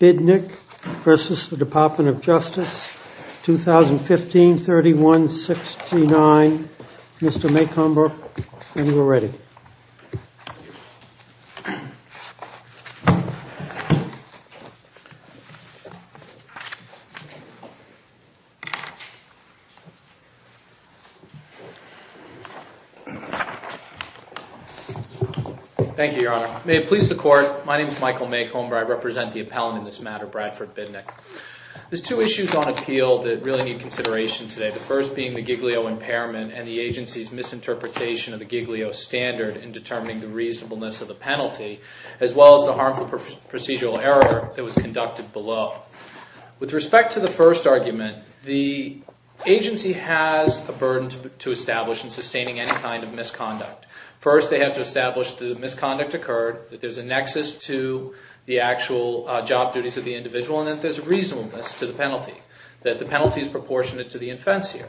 Bidnick v. DOJ 2015-3169, Mr. Maycomber, when you are ready. Thank you, Your Honor. May it please the Court, my name is Michael Maycomber, I represent the appellant in this matter, Bradford Bidnick. There's two issues on appeal that really need consideration today. The first being the Giglio impairment and the agency's misinterpretation of the Giglio standard in determining the reasonableness of the penalty, as well as the harmful procedural error that was conducted below. With respect to the first argument, the agency has a burden to establish in sustaining any kind of misconduct. First, they have to establish that the misconduct occurred, that there's a nexus to the actual job duties of the individual, and that there's reasonableness to the penalty, that the penalty is proportionate to the offense here.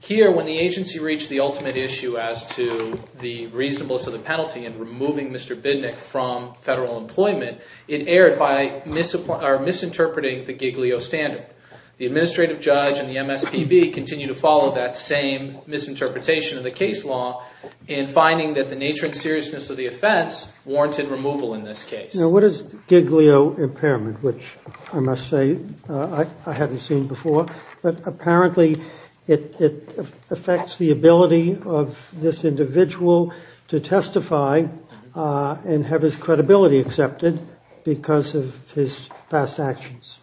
Here, when the agency reached the ultimate issue as to the reasonableness of the penalty in removing Mr. Bidnick from federal employment, it erred by misinterpreting the Giglio standard. The administrative judge and the MSPB continue to follow that same misinterpretation of the case law in finding that the nature and seriousness of the offense warranted removal in this case. Now, what is Giglio impairment, which I must say I haven't seen before, but apparently it affects the ability of this individual to testify and have his credibility accepted because of his past actions.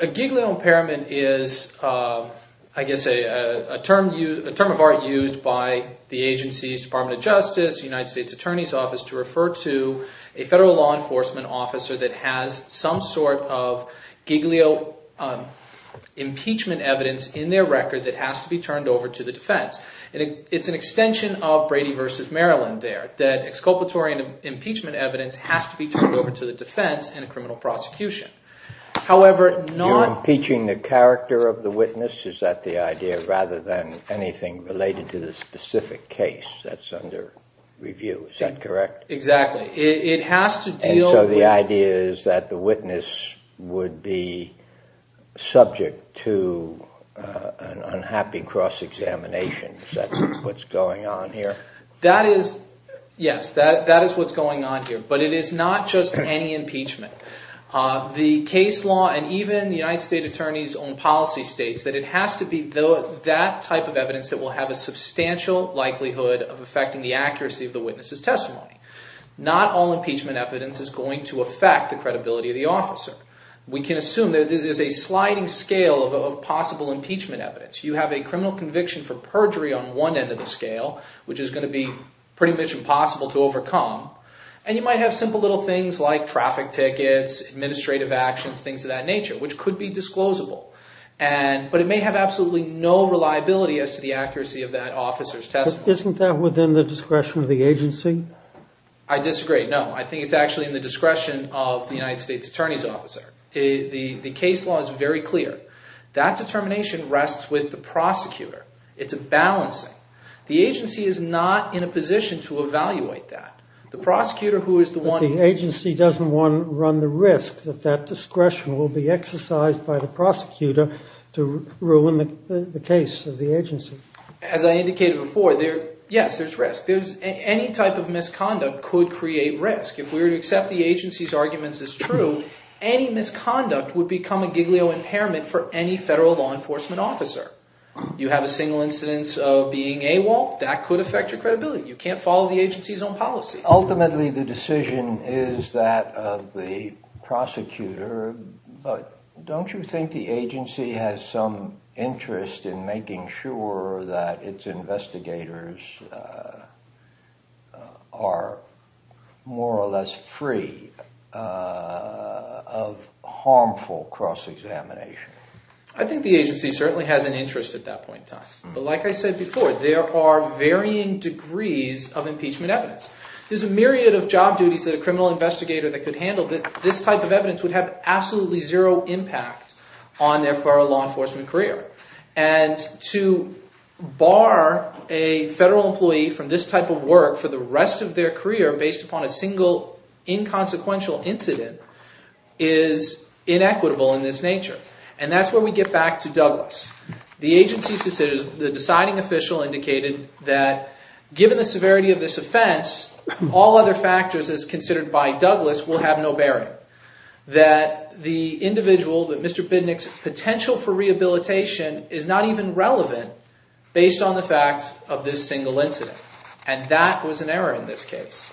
A Giglio impairment is, I guess, a term of art used by the agency's Department of Justice, United States Attorney's Office, to refer to a federal law enforcement officer that has some sort of Giglio impeachment evidence in their record that has to be turned over to the defense. It's an extension of Brady v. Maryland there, that exculpatory impeachment evidence has to be turned over to the defense in a criminal prosecution. You're impeaching the character of the witness, is that the idea, rather than anything related to the specific case that's under review, is that correct? Exactly. It has to deal with... And so the idea is that the witness would be subject to an unhappy cross-examination, is that what's going on here? Yes, that is what's going on here, but it is not just any impeachment. The case law and even the United States Attorney's own policy states that it has to be that type of evidence that will have a substantial likelihood of affecting the accuracy of the witness's testimony. Not all impeachment evidence is going to affect the credibility of the officer. We can assume that there's a sliding scale of possible impeachment evidence. You have a criminal conviction for perjury on one end of the scale, which is going to be pretty much impossible to overcome. And you might have simple little things like traffic tickets, administrative actions, things of that nature, which could be disclosable. But it may have absolutely no reliability as to the accuracy of that officer's testimony. Isn't that within the discretion of the agency? I disagree, no. I think it's actually in the discretion of the United States Attorney's officer. The case law is very clear. That determination rests with the prosecutor. It's a balancing. The agency is not in a position to evaluate that. But the agency doesn't want to run the risk that that discretion will be exercised by the prosecutor to ruin the case of the agency. As I indicated before, yes, there's risk. Any type of misconduct could create risk. If we were to accept the agency's arguments as true, any misconduct would become a giglio impairment for any federal law enforcement officer. You have a single incidence of being AWOL, that could affect your credibility. You can't follow the agency's own policies. Ultimately, the decision is that of the prosecutor. But don't you think the agency has some interest in making sure that its investigators are more or less free of harmful cross-examination? I think the agency certainly has an interest at that point in time. But like I said before, there are varying degrees of impeachment evidence. There's a myriad of job duties that a criminal investigator that could handle. This type of evidence would have absolutely zero impact on their federal law enforcement career. And to bar a federal employee from this type of work for the rest of their career based upon a single inconsequential incident is inequitable in this nature. And that's where we get back to Douglas. The agency's decision, the deciding official indicated that given the severity of this offense, all other factors as considered by Douglas will have no bearing. That the individual, that Mr. Bidnick's potential for rehabilitation is not even relevant based on the facts of this single incident. And that was an error in this case.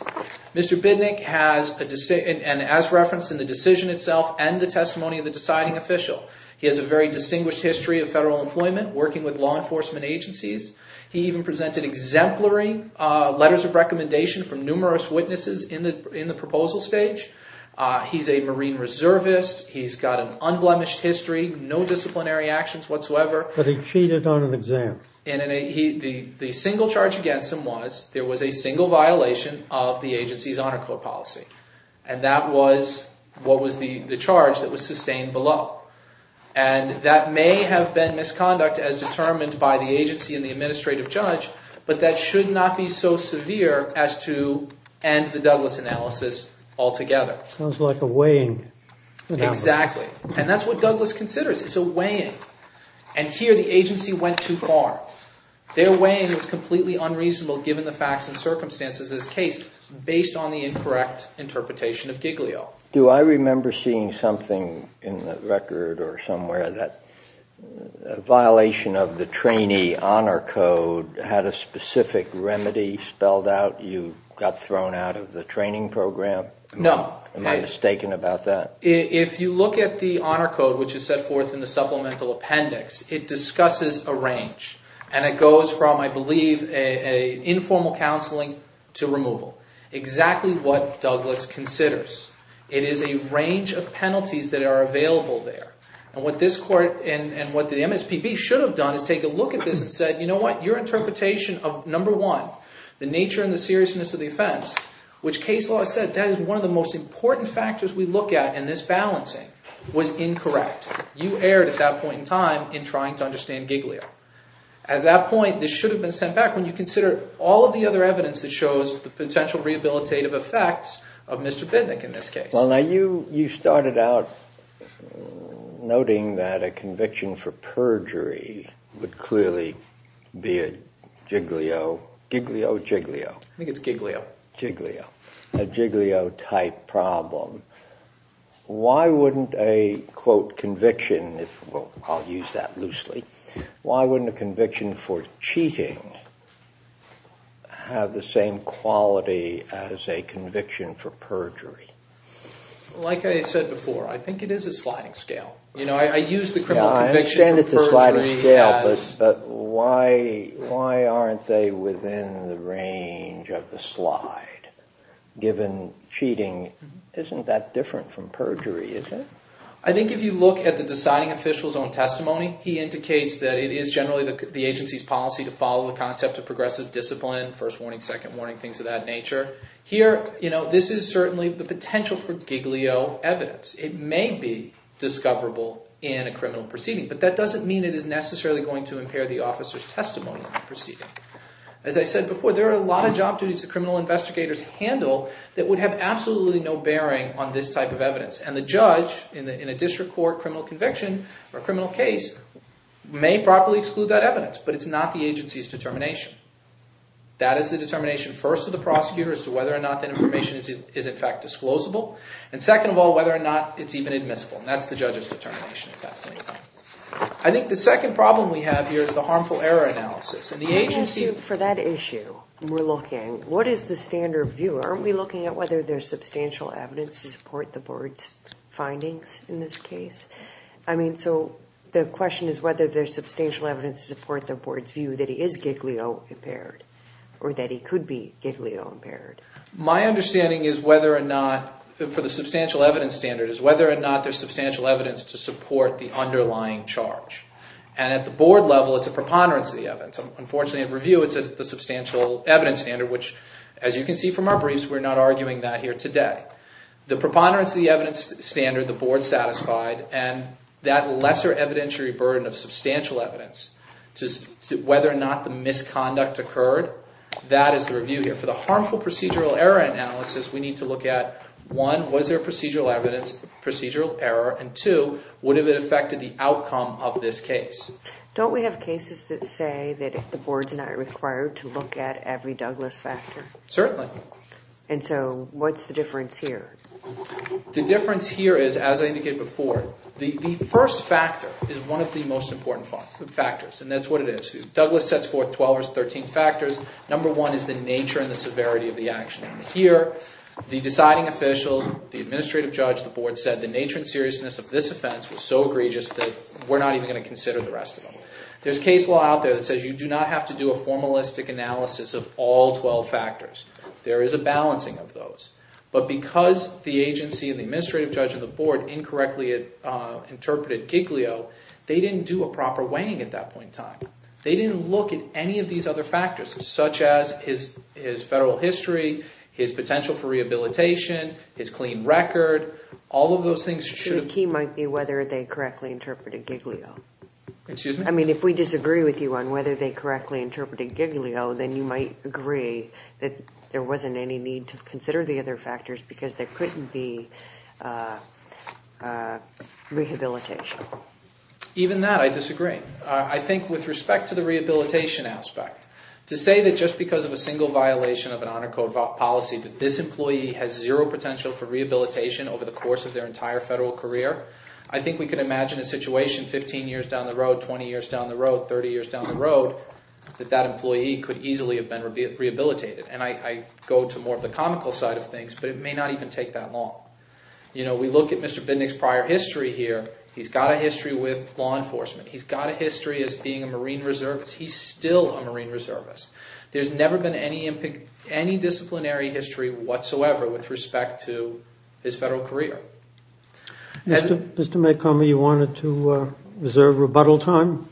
Mr. Bidnick has a decision, and as referenced in the decision itself and the testimony of the deciding official, he has a very distinguished history of federal employment, working with law enforcement agencies. He even presented exemplary letters of recommendation from numerous witnesses in the proposal stage. He's a marine reservist. He's got an unblemished history, no disciplinary actions whatsoever. But he cheated on an exam. The single charge against him was there was a single violation of the agency's honor code policy. And that was what was the charge that was sustained below. And that may have been misconduct as determined by the agency and the administrative judge. But that should not be so severe as to end the Douglas analysis altogether. Sounds like a weighing. Exactly. And that's what Douglas considers. It's a weighing. And here the agency went too far. Their weighing was completely unreasonable given the facts and circumstances of this case, based on the incorrect interpretation of Giglio. Do I remember seeing something in the record or somewhere that a violation of the trainee honor code had a specific remedy spelled out? You got thrown out of the training program? No. Am I mistaken about that? If you look at the honor code, which is set forth in the supplemental appendix, it discusses a range. And it goes from, I believe, informal counseling to removal. Exactly what Douglas considers. It is a range of penalties that are available there. And what this court and what the MSPB should have done is take a look at this and said, you know what, your interpretation of number one, the nature and the seriousness of the offense, which case law said that is one of the most important factors we look at in this balancing, was incorrect. You erred at that point in time in trying to understand Giglio. At that point, this should have been sent back when you consider all of the other evidence that shows the potential rehabilitative effects of Mr. Bidnick in this case. Well, now you started out noting that a conviction for perjury would clearly be a Giglio, Giglio, Jiglio. I think it's Giglio. Giglio, a Giglio-type problem. Why wouldn't a, quote, conviction, I'll use that loosely, why wouldn't a conviction for cheating have the same quality as a conviction for perjury? Like I said before, I think it is a sliding scale. You know, I use the criminal conviction for perjury. But why aren't they within the range of the slide, given cheating isn't that different from perjury, is it? I think if you look at the deciding official's own testimony, he indicates that it is generally the agency's policy to follow the concept of progressive discipline, first warning, second warning, things of that nature. Here, you know, this is certainly the potential for Giglio evidence. It may be discoverable in a criminal proceeding, but that doesn't mean it is necessarily going to impair the officer's testimony in the proceeding. As I said before, there are a lot of job duties that criminal investigators handle that would have absolutely no bearing on this type of evidence. And the judge, in a district court criminal conviction or criminal case, may properly exclude that evidence, but it's not the agency's determination. That is the determination, first, of the prosecutor, as to whether or not that information is, in fact, disclosable. And second of all, whether or not it's even admissible. And that's the judge's determination at that point in time. I think the second problem we have here is the harmful error analysis. And the agency— I'm going to ask you, for that issue we're looking, what is the standard of view? Aren't we looking at whether there's substantial evidence to support the board's findings in this case? I mean, so the question is whether there's substantial evidence to support the board's view that he is Giglio impaired or that he could be Giglio impaired. My understanding is whether or not—for the substantial evidence standard— is whether or not there's substantial evidence to support the underlying charge. And at the board level, it's a preponderance of the evidence. Unfortunately, in review, it's the substantial evidence standard, which, as you can see from our briefs, we're not arguing that here today. The preponderance of the evidence standard, the board satisfied, and that lesser evidentiary burden of substantial evidence, whether or not the misconduct occurred, that is the review here. And for the harmful procedural error analysis, we need to look at, one, was there procedural evidence, procedural error, and two, would it have affected the outcome of this case? Don't we have cases that say that the board's not required to look at every Douglas factor? Certainly. And so what's the difference here? The difference here is, as I indicated before, the first factor is one of the most important factors, and that's what it is. Douglas sets forth 12 or 13 factors. Number one is the nature and the severity of the action. Here, the deciding official, the administrative judge, the board said, the nature and seriousness of this offense was so egregious that we're not even going to consider the rest of them. There's case law out there that says you do not have to do a formalistic analysis of all 12 factors. There is a balancing of those. But because the agency and the administrative judge and the board incorrectly interpreted Giglio, they didn't do a proper weighing at that point in time. They didn't look at any of these other factors, such as his federal history, his potential for rehabilitation, his clean record, all of those things should have been. The key might be whether they correctly interpreted Giglio. Excuse me? I mean, if we disagree with you on whether they correctly interpreted Giglio, then you might agree that there wasn't any need to consider the other factors because there couldn't be rehabilitation. Even that, I disagree. I think with respect to the rehabilitation aspect, to say that just because of a single violation of an Honor Code policy that this employee has zero potential for rehabilitation over the course of their entire federal career, I think we can imagine a situation 15 years down the road, 20 years down the road, 30 years down the road, that that employee could easily have been rehabilitated. And I go to more of the comical side of things, but it may not even take that long. We look at Mr. Bindig's prior history here. He's got a history with law enforcement. He's got a history as being a Marine reservist. He's still a Marine reservist. There's never been any disciplinary history whatsoever with respect to his federal career. Mr. Macomb, you wanted to reserve rebuttal time?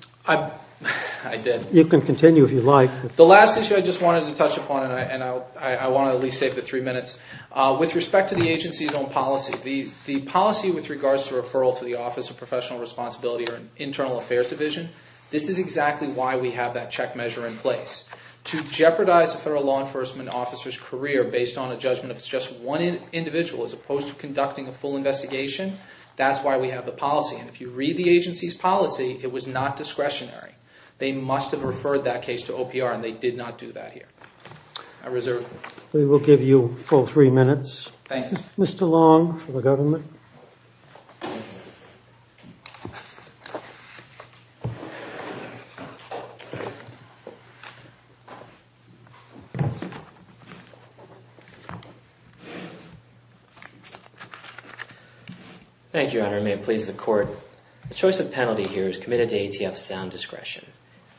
I did. You can continue if you'd like. The last issue I just wanted to touch upon, and I want to at least save the three minutes, with respect to the agency's own policy, the policy with regards to referral to the Office of Professional Responsibility or Internal Affairs Division, this is exactly why we have that check measure in place. To jeopardize a federal law enforcement officer's career based on a judgment of just one individual as opposed to conducting a full investigation, that's why we have the policy. And if you read the agency's policy, it was not discretionary. They must have referred that case to OPR, and they did not do that here. I reserve the floor. We will give you full three minutes. Thank you. Mr. Long for the government. Thank you, Your Honor. May it please the Court. The choice of penalty here is committed to ATF's sound discretion.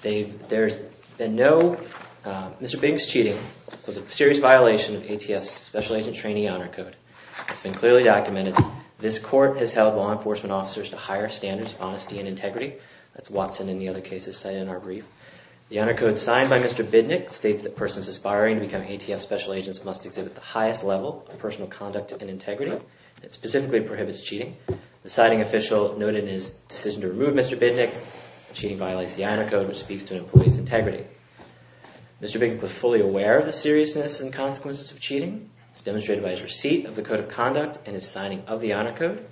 There's been no... Mr. Bidnick's cheating was a serious violation of ATF's Special Agent Trainee Honor Code. It's been clearly documented. This court has held law enforcement officers to higher standards of honesty and integrity. That's Watson and the other cases cited in our brief. The Honor Code signed by Mr. Bidnick states that persons aspiring to become ATF Special Agents must exhibit the highest level of personal conduct and integrity. It specifically prohibits cheating. The citing official noted in his decision to remove Mr. Bidnick that cheating violates the Honor Code, which speaks to an employee's integrity. Mr. Bidnick was fully aware of the seriousness and consequences of cheating. It's demonstrated by his receipt of the Code of Conduct and his signing of the Honor Code.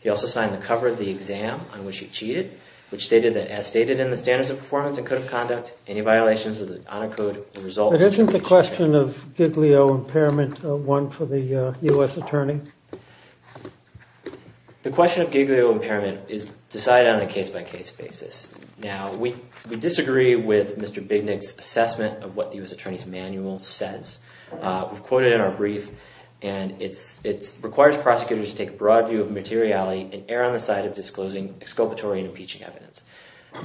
He also signed the cover of the exam on which he cheated, which stated that as stated in the Standards of Performance and Code of Conduct, any violations of the Honor Code result... But isn't the question of Giglio impairment one for the U.S. attorney? The question of Giglio impairment is decided on a case-by-case basis. Now, we disagree with Mr. Bidnick's assessment of what the U.S. attorney's manual says. We've quoted in our brief, and it requires prosecutors to take a broad view of materiality and err on the side of disclosing exculpatory and impeaching evidence.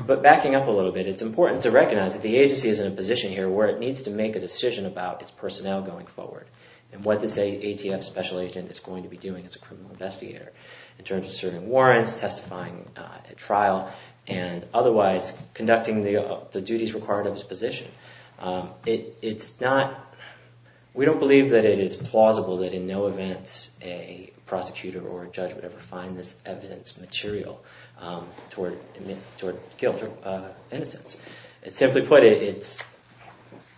But backing up a little bit, it's important to recognize that the agency is in a position here where it needs to make a decision about its personnel going forward and what this ATF special agent is going to be doing as a criminal investigator in terms of serving warrants, testifying at trial, and otherwise conducting the duties required of his position. It's not... We don't believe that it is plausible that in no event a prosecutor or a judge would ever find this evidence material toward guilt or innocence. Simply put, it's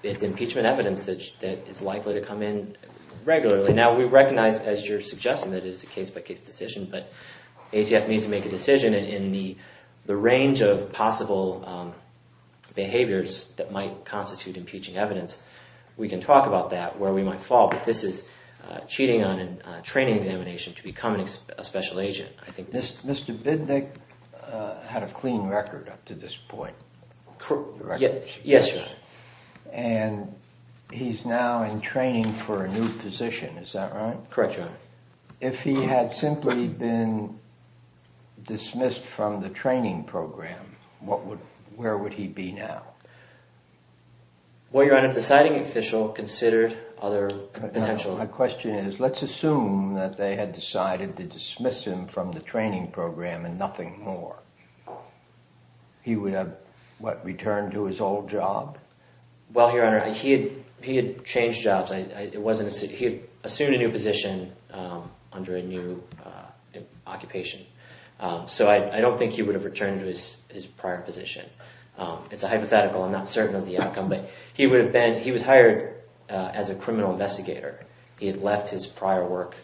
impeachment evidence that is likely to come in regularly. Now, we recognize, as you're suggesting, that it is a case-by-case decision, but ATF needs to make a decision in the range of possible behaviors that might constitute impeaching evidence. We can talk about that, where we might fall, but this is cheating on a training examination to become a special agent. Mr. Bidnick had a clean record up to this point. Yes, sir. And he's now in training for a new position, is that right? Correct, your honor. If he had simply been dismissed from the training program, where would he be now? Well, your honor, the deciding official considered other potential... and nothing more. He would have, what, returned to his old job? Well, your honor, he had changed jobs. He had assumed a new position under a new occupation. So I don't think he would have returned to his prior position. It's a hypothetical. I'm not certain of the outcome. But he was hired as a criminal investigator. He had left his prior work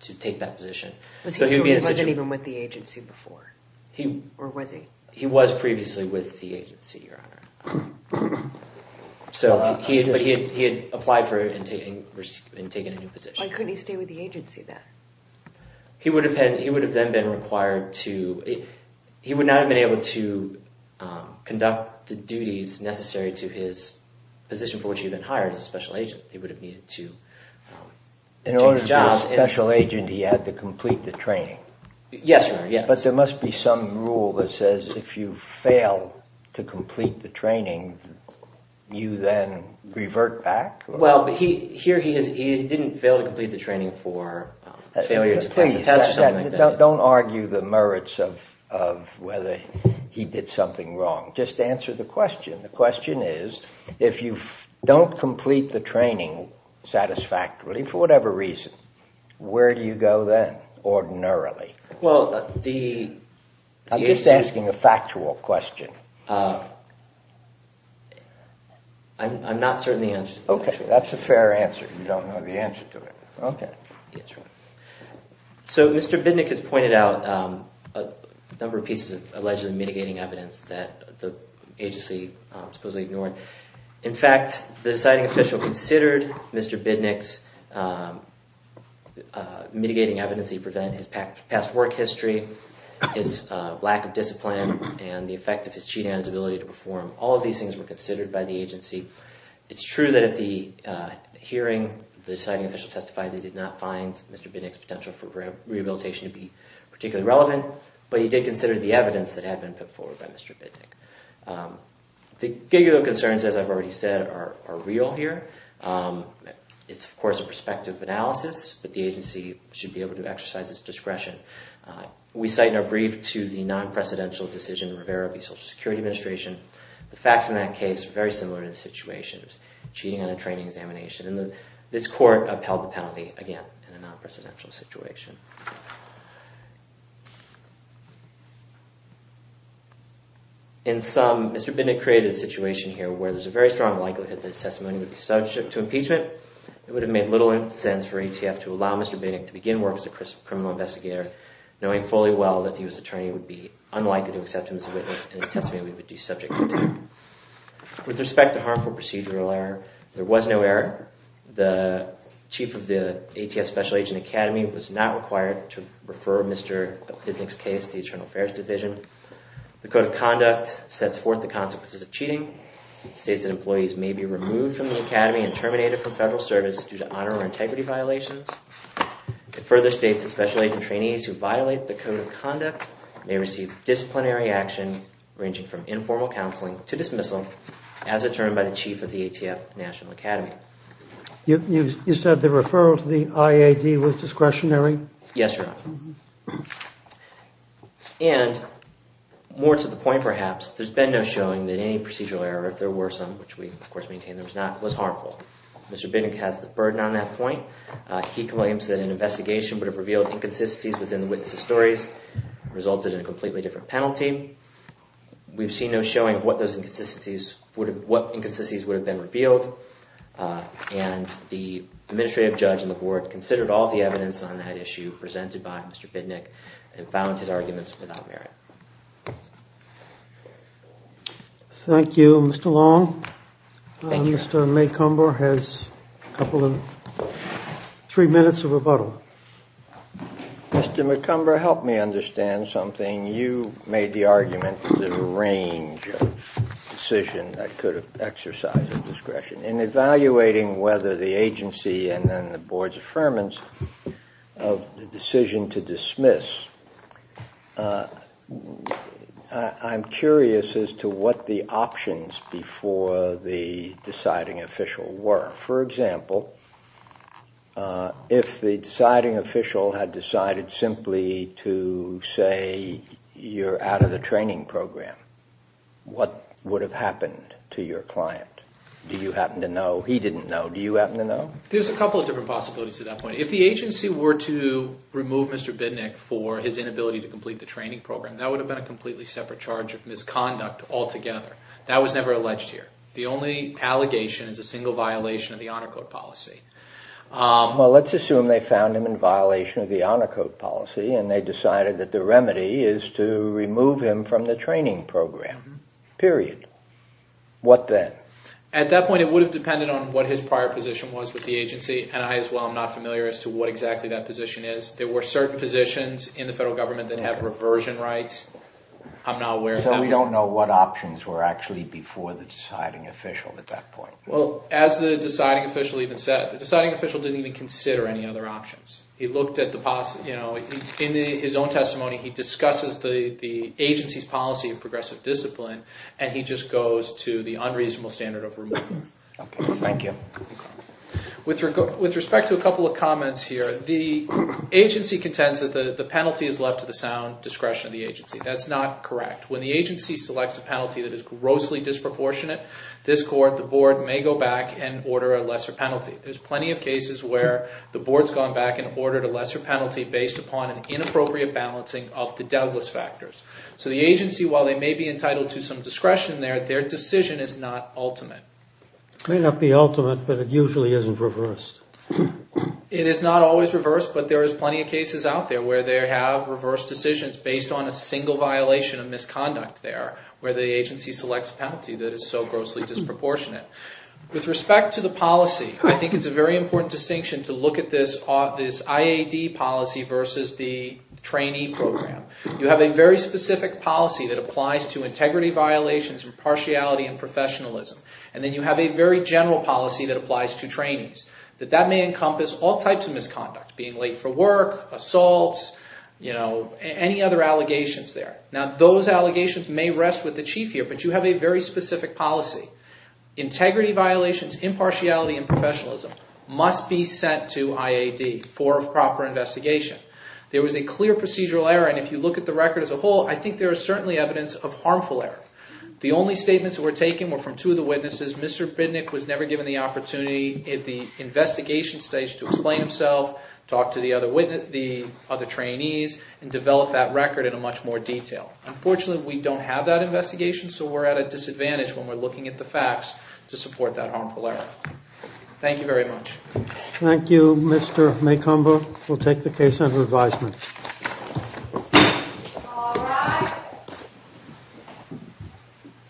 to take that position. So he wasn't even with the agency before, or was he? He was previously with the agency, your honor. But he had applied for and taken a new position. Why couldn't he stay with the agency then? He would have then been required to... He would not have been able to conduct the duties necessary to his position for which he had been hired as a special agent. He would have needed to change jobs. As a special agent, he had to complete the training. Yes, your honor, yes. But there must be some rule that says if you fail to complete the training, you then revert back? Well, here he is. He didn't fail to complete the training for failure to pass the test. Don't argue the merits of whether he did something wrong. Just answer the question. The question is if you don't complete the training satisfactorily, for whatever reason, where do you go then ordinarily? Well, the... I'm just asking a factual question. I'm not certain the answer to that question. Okay, that's a fair answer. You don't know the answer to it. Okay. Yes, your honor. So Mr. Bidnick has pointed out a number of pieces of allegedly mitigating evidence that the agency supposedly ignored. In fact, the deciding official considered Mr. Bidnick's mitigating evidence that he prevented his past work history, his lack of discipline, and the effect of his cheating on his ability to perform. All of these things were considered by the agency. It's true that at the hearing, the deciding official testified that he did not find Mr. Bidnick's potential for rehabilitation to be particularly relevant, but he did consider the evidence that had been put forward by Mr. Bidnick. The gigolo concerns, as I've already said, are real here. It's, of course, a prospective analysis, but the agency should be able to exercise its discretion. We cite in our brief to the non-precedential decision in Rivera v. Social Security Administration, the facts in that case are very similar to the situation. It was cheating on a training examination, and this court upheld the penalty, again, in a non-precedential situation. In sum, Mr. Bidnick created a situation here where there's a very strong likelihood that his testimony would be subject to impeachment. It would have made little sense for ATF to allow Mr. Bidnick to begin work as a criminal investigator, knowing fully well that the U.S. attorney would be unlikely to accept him as a witness, and his testimony would be subject to impeachment. With respect to harmful procedural error, there was no error. was not required to testify on behalf of Mr. Bidnick. It was not required to refer Mr. Bidnick's case to the Internal Affairs Division. The Code of Conduct sets forth the consequences of cheating. It states that employees may be removed from the academy and terminated from federal service due to honor or integrity violations. It further states that special agent trainees who violate the Code of Conduct may receive disciplinary action, ranging from informal counseling to dismissal, as determined by the chief of the ATF National Academy. You said the referral to the IAD was discretionary? Yes, Your Honor. And, more to the point perhaps, there's been no showing that any procedural error, if there were some, which we of course maintain there was not, was harmful. Mr. Bidnick has the burden on that point. He claims that an investigation would have revealed inconsistencies within the witness' stories, resulted in a completely different penalty. We've seen no showing what those inconsistencies would have, what inconsistencies would have been revealed. And the administrative judge on the board considered all the evidence on that issue presented by Mr. Bidnick and found his arguments without merit. Thank you. Mr. Long? Thank you, Your Honor. Mr. McComber has a couple of... three minutes of rebuttal. Mr. McComber, help me understand something. You made the argument that there's a range of decisions that could have exercised discretion. In evaluating whether the agency and then the board's affirmance of the decision to dismiss, I'm curious as to what the options before the deciding official were. For example, if the deciding official had decided simply to say, you're out of the training program, what would have happened to your client? Do you happen to know? He didn't know. Do you happen to know? There's a couple of different possibilities to that point. If the agency were to remove Mr. Bidnick for his inability to complete the training program, that would have been a completely separate charge of misconduct altogether. That was never alleged here. The only allegation is a single violation of the Honor Code policy. Well, let's assume they found him in violation of the Honor Code policy and they decided that the remedy is to remove him from the training program. Period. What then? At that point, it would have depended on what his prior position was with the agency and I as well am not familiar as to what exactly that position is. There were certain positions in the federal government that have reversion rights. I'm not aware of that. So we don't know what options were actually before the deciding official at that point. Well, as the deciding official even said, the deciding official didn't even consider any other options. In his own testimony, he discusses the agency's policy of progressive discipline and he just goes to the unreasonable standard of removal. Thank you. With respect to a couple of comments here, the agency contends that the penalty is left to the sound discretion of the agency. That's not correct. When the agency selects a penalty that is grossly disproportionate, this court, the board, may go back and order a lesser penalty. There's plenty of cases where the board's gone back and ordered a lesser penalty based upon an inappropriate balancing of the Douglas factors. So the agency, while they may be entitled to some discretion there, their decision is not ultimate. It may not be ultimate, but it usually isn't reversed. It is not always reversed, but there is plenty of cases out there where they have reversed decisions based on a single violation of misconduct there where the agency selects a penalty that is so grossly disproportionate. With respect to the policy, I think it's a very important distinction to look at this IAD policy versus the trainee program. You have a very specific policy that applies to integrity violations, impartiality, and professionalism. And then you have a very general policy that applies to trainees that that may encompass all types of misconduct, being late for work, assaults, any other allegations there. Now, those allegations may rest with the chief here, but you have a very specific policy. Integrity violations, impartiality, and professionalism must be sent to IAD for proper investigation. There was a clear procedural error, and if you look at the record as a whole, I think there is certainly evidence of harmful error. The only statements that were taken were from two of the witnesses. Mr. Bidnick was never given the opportunity at the investigation stage to explain himself, talk to the other trainees, and develop that record in much more detail. Unfortunately, we don't have that investigation, so we're at a disadvantage when we're looking at the facts to support that harmful error. Thank you very much. Thank you, Mr. Macomber. We'll take the case under advisement.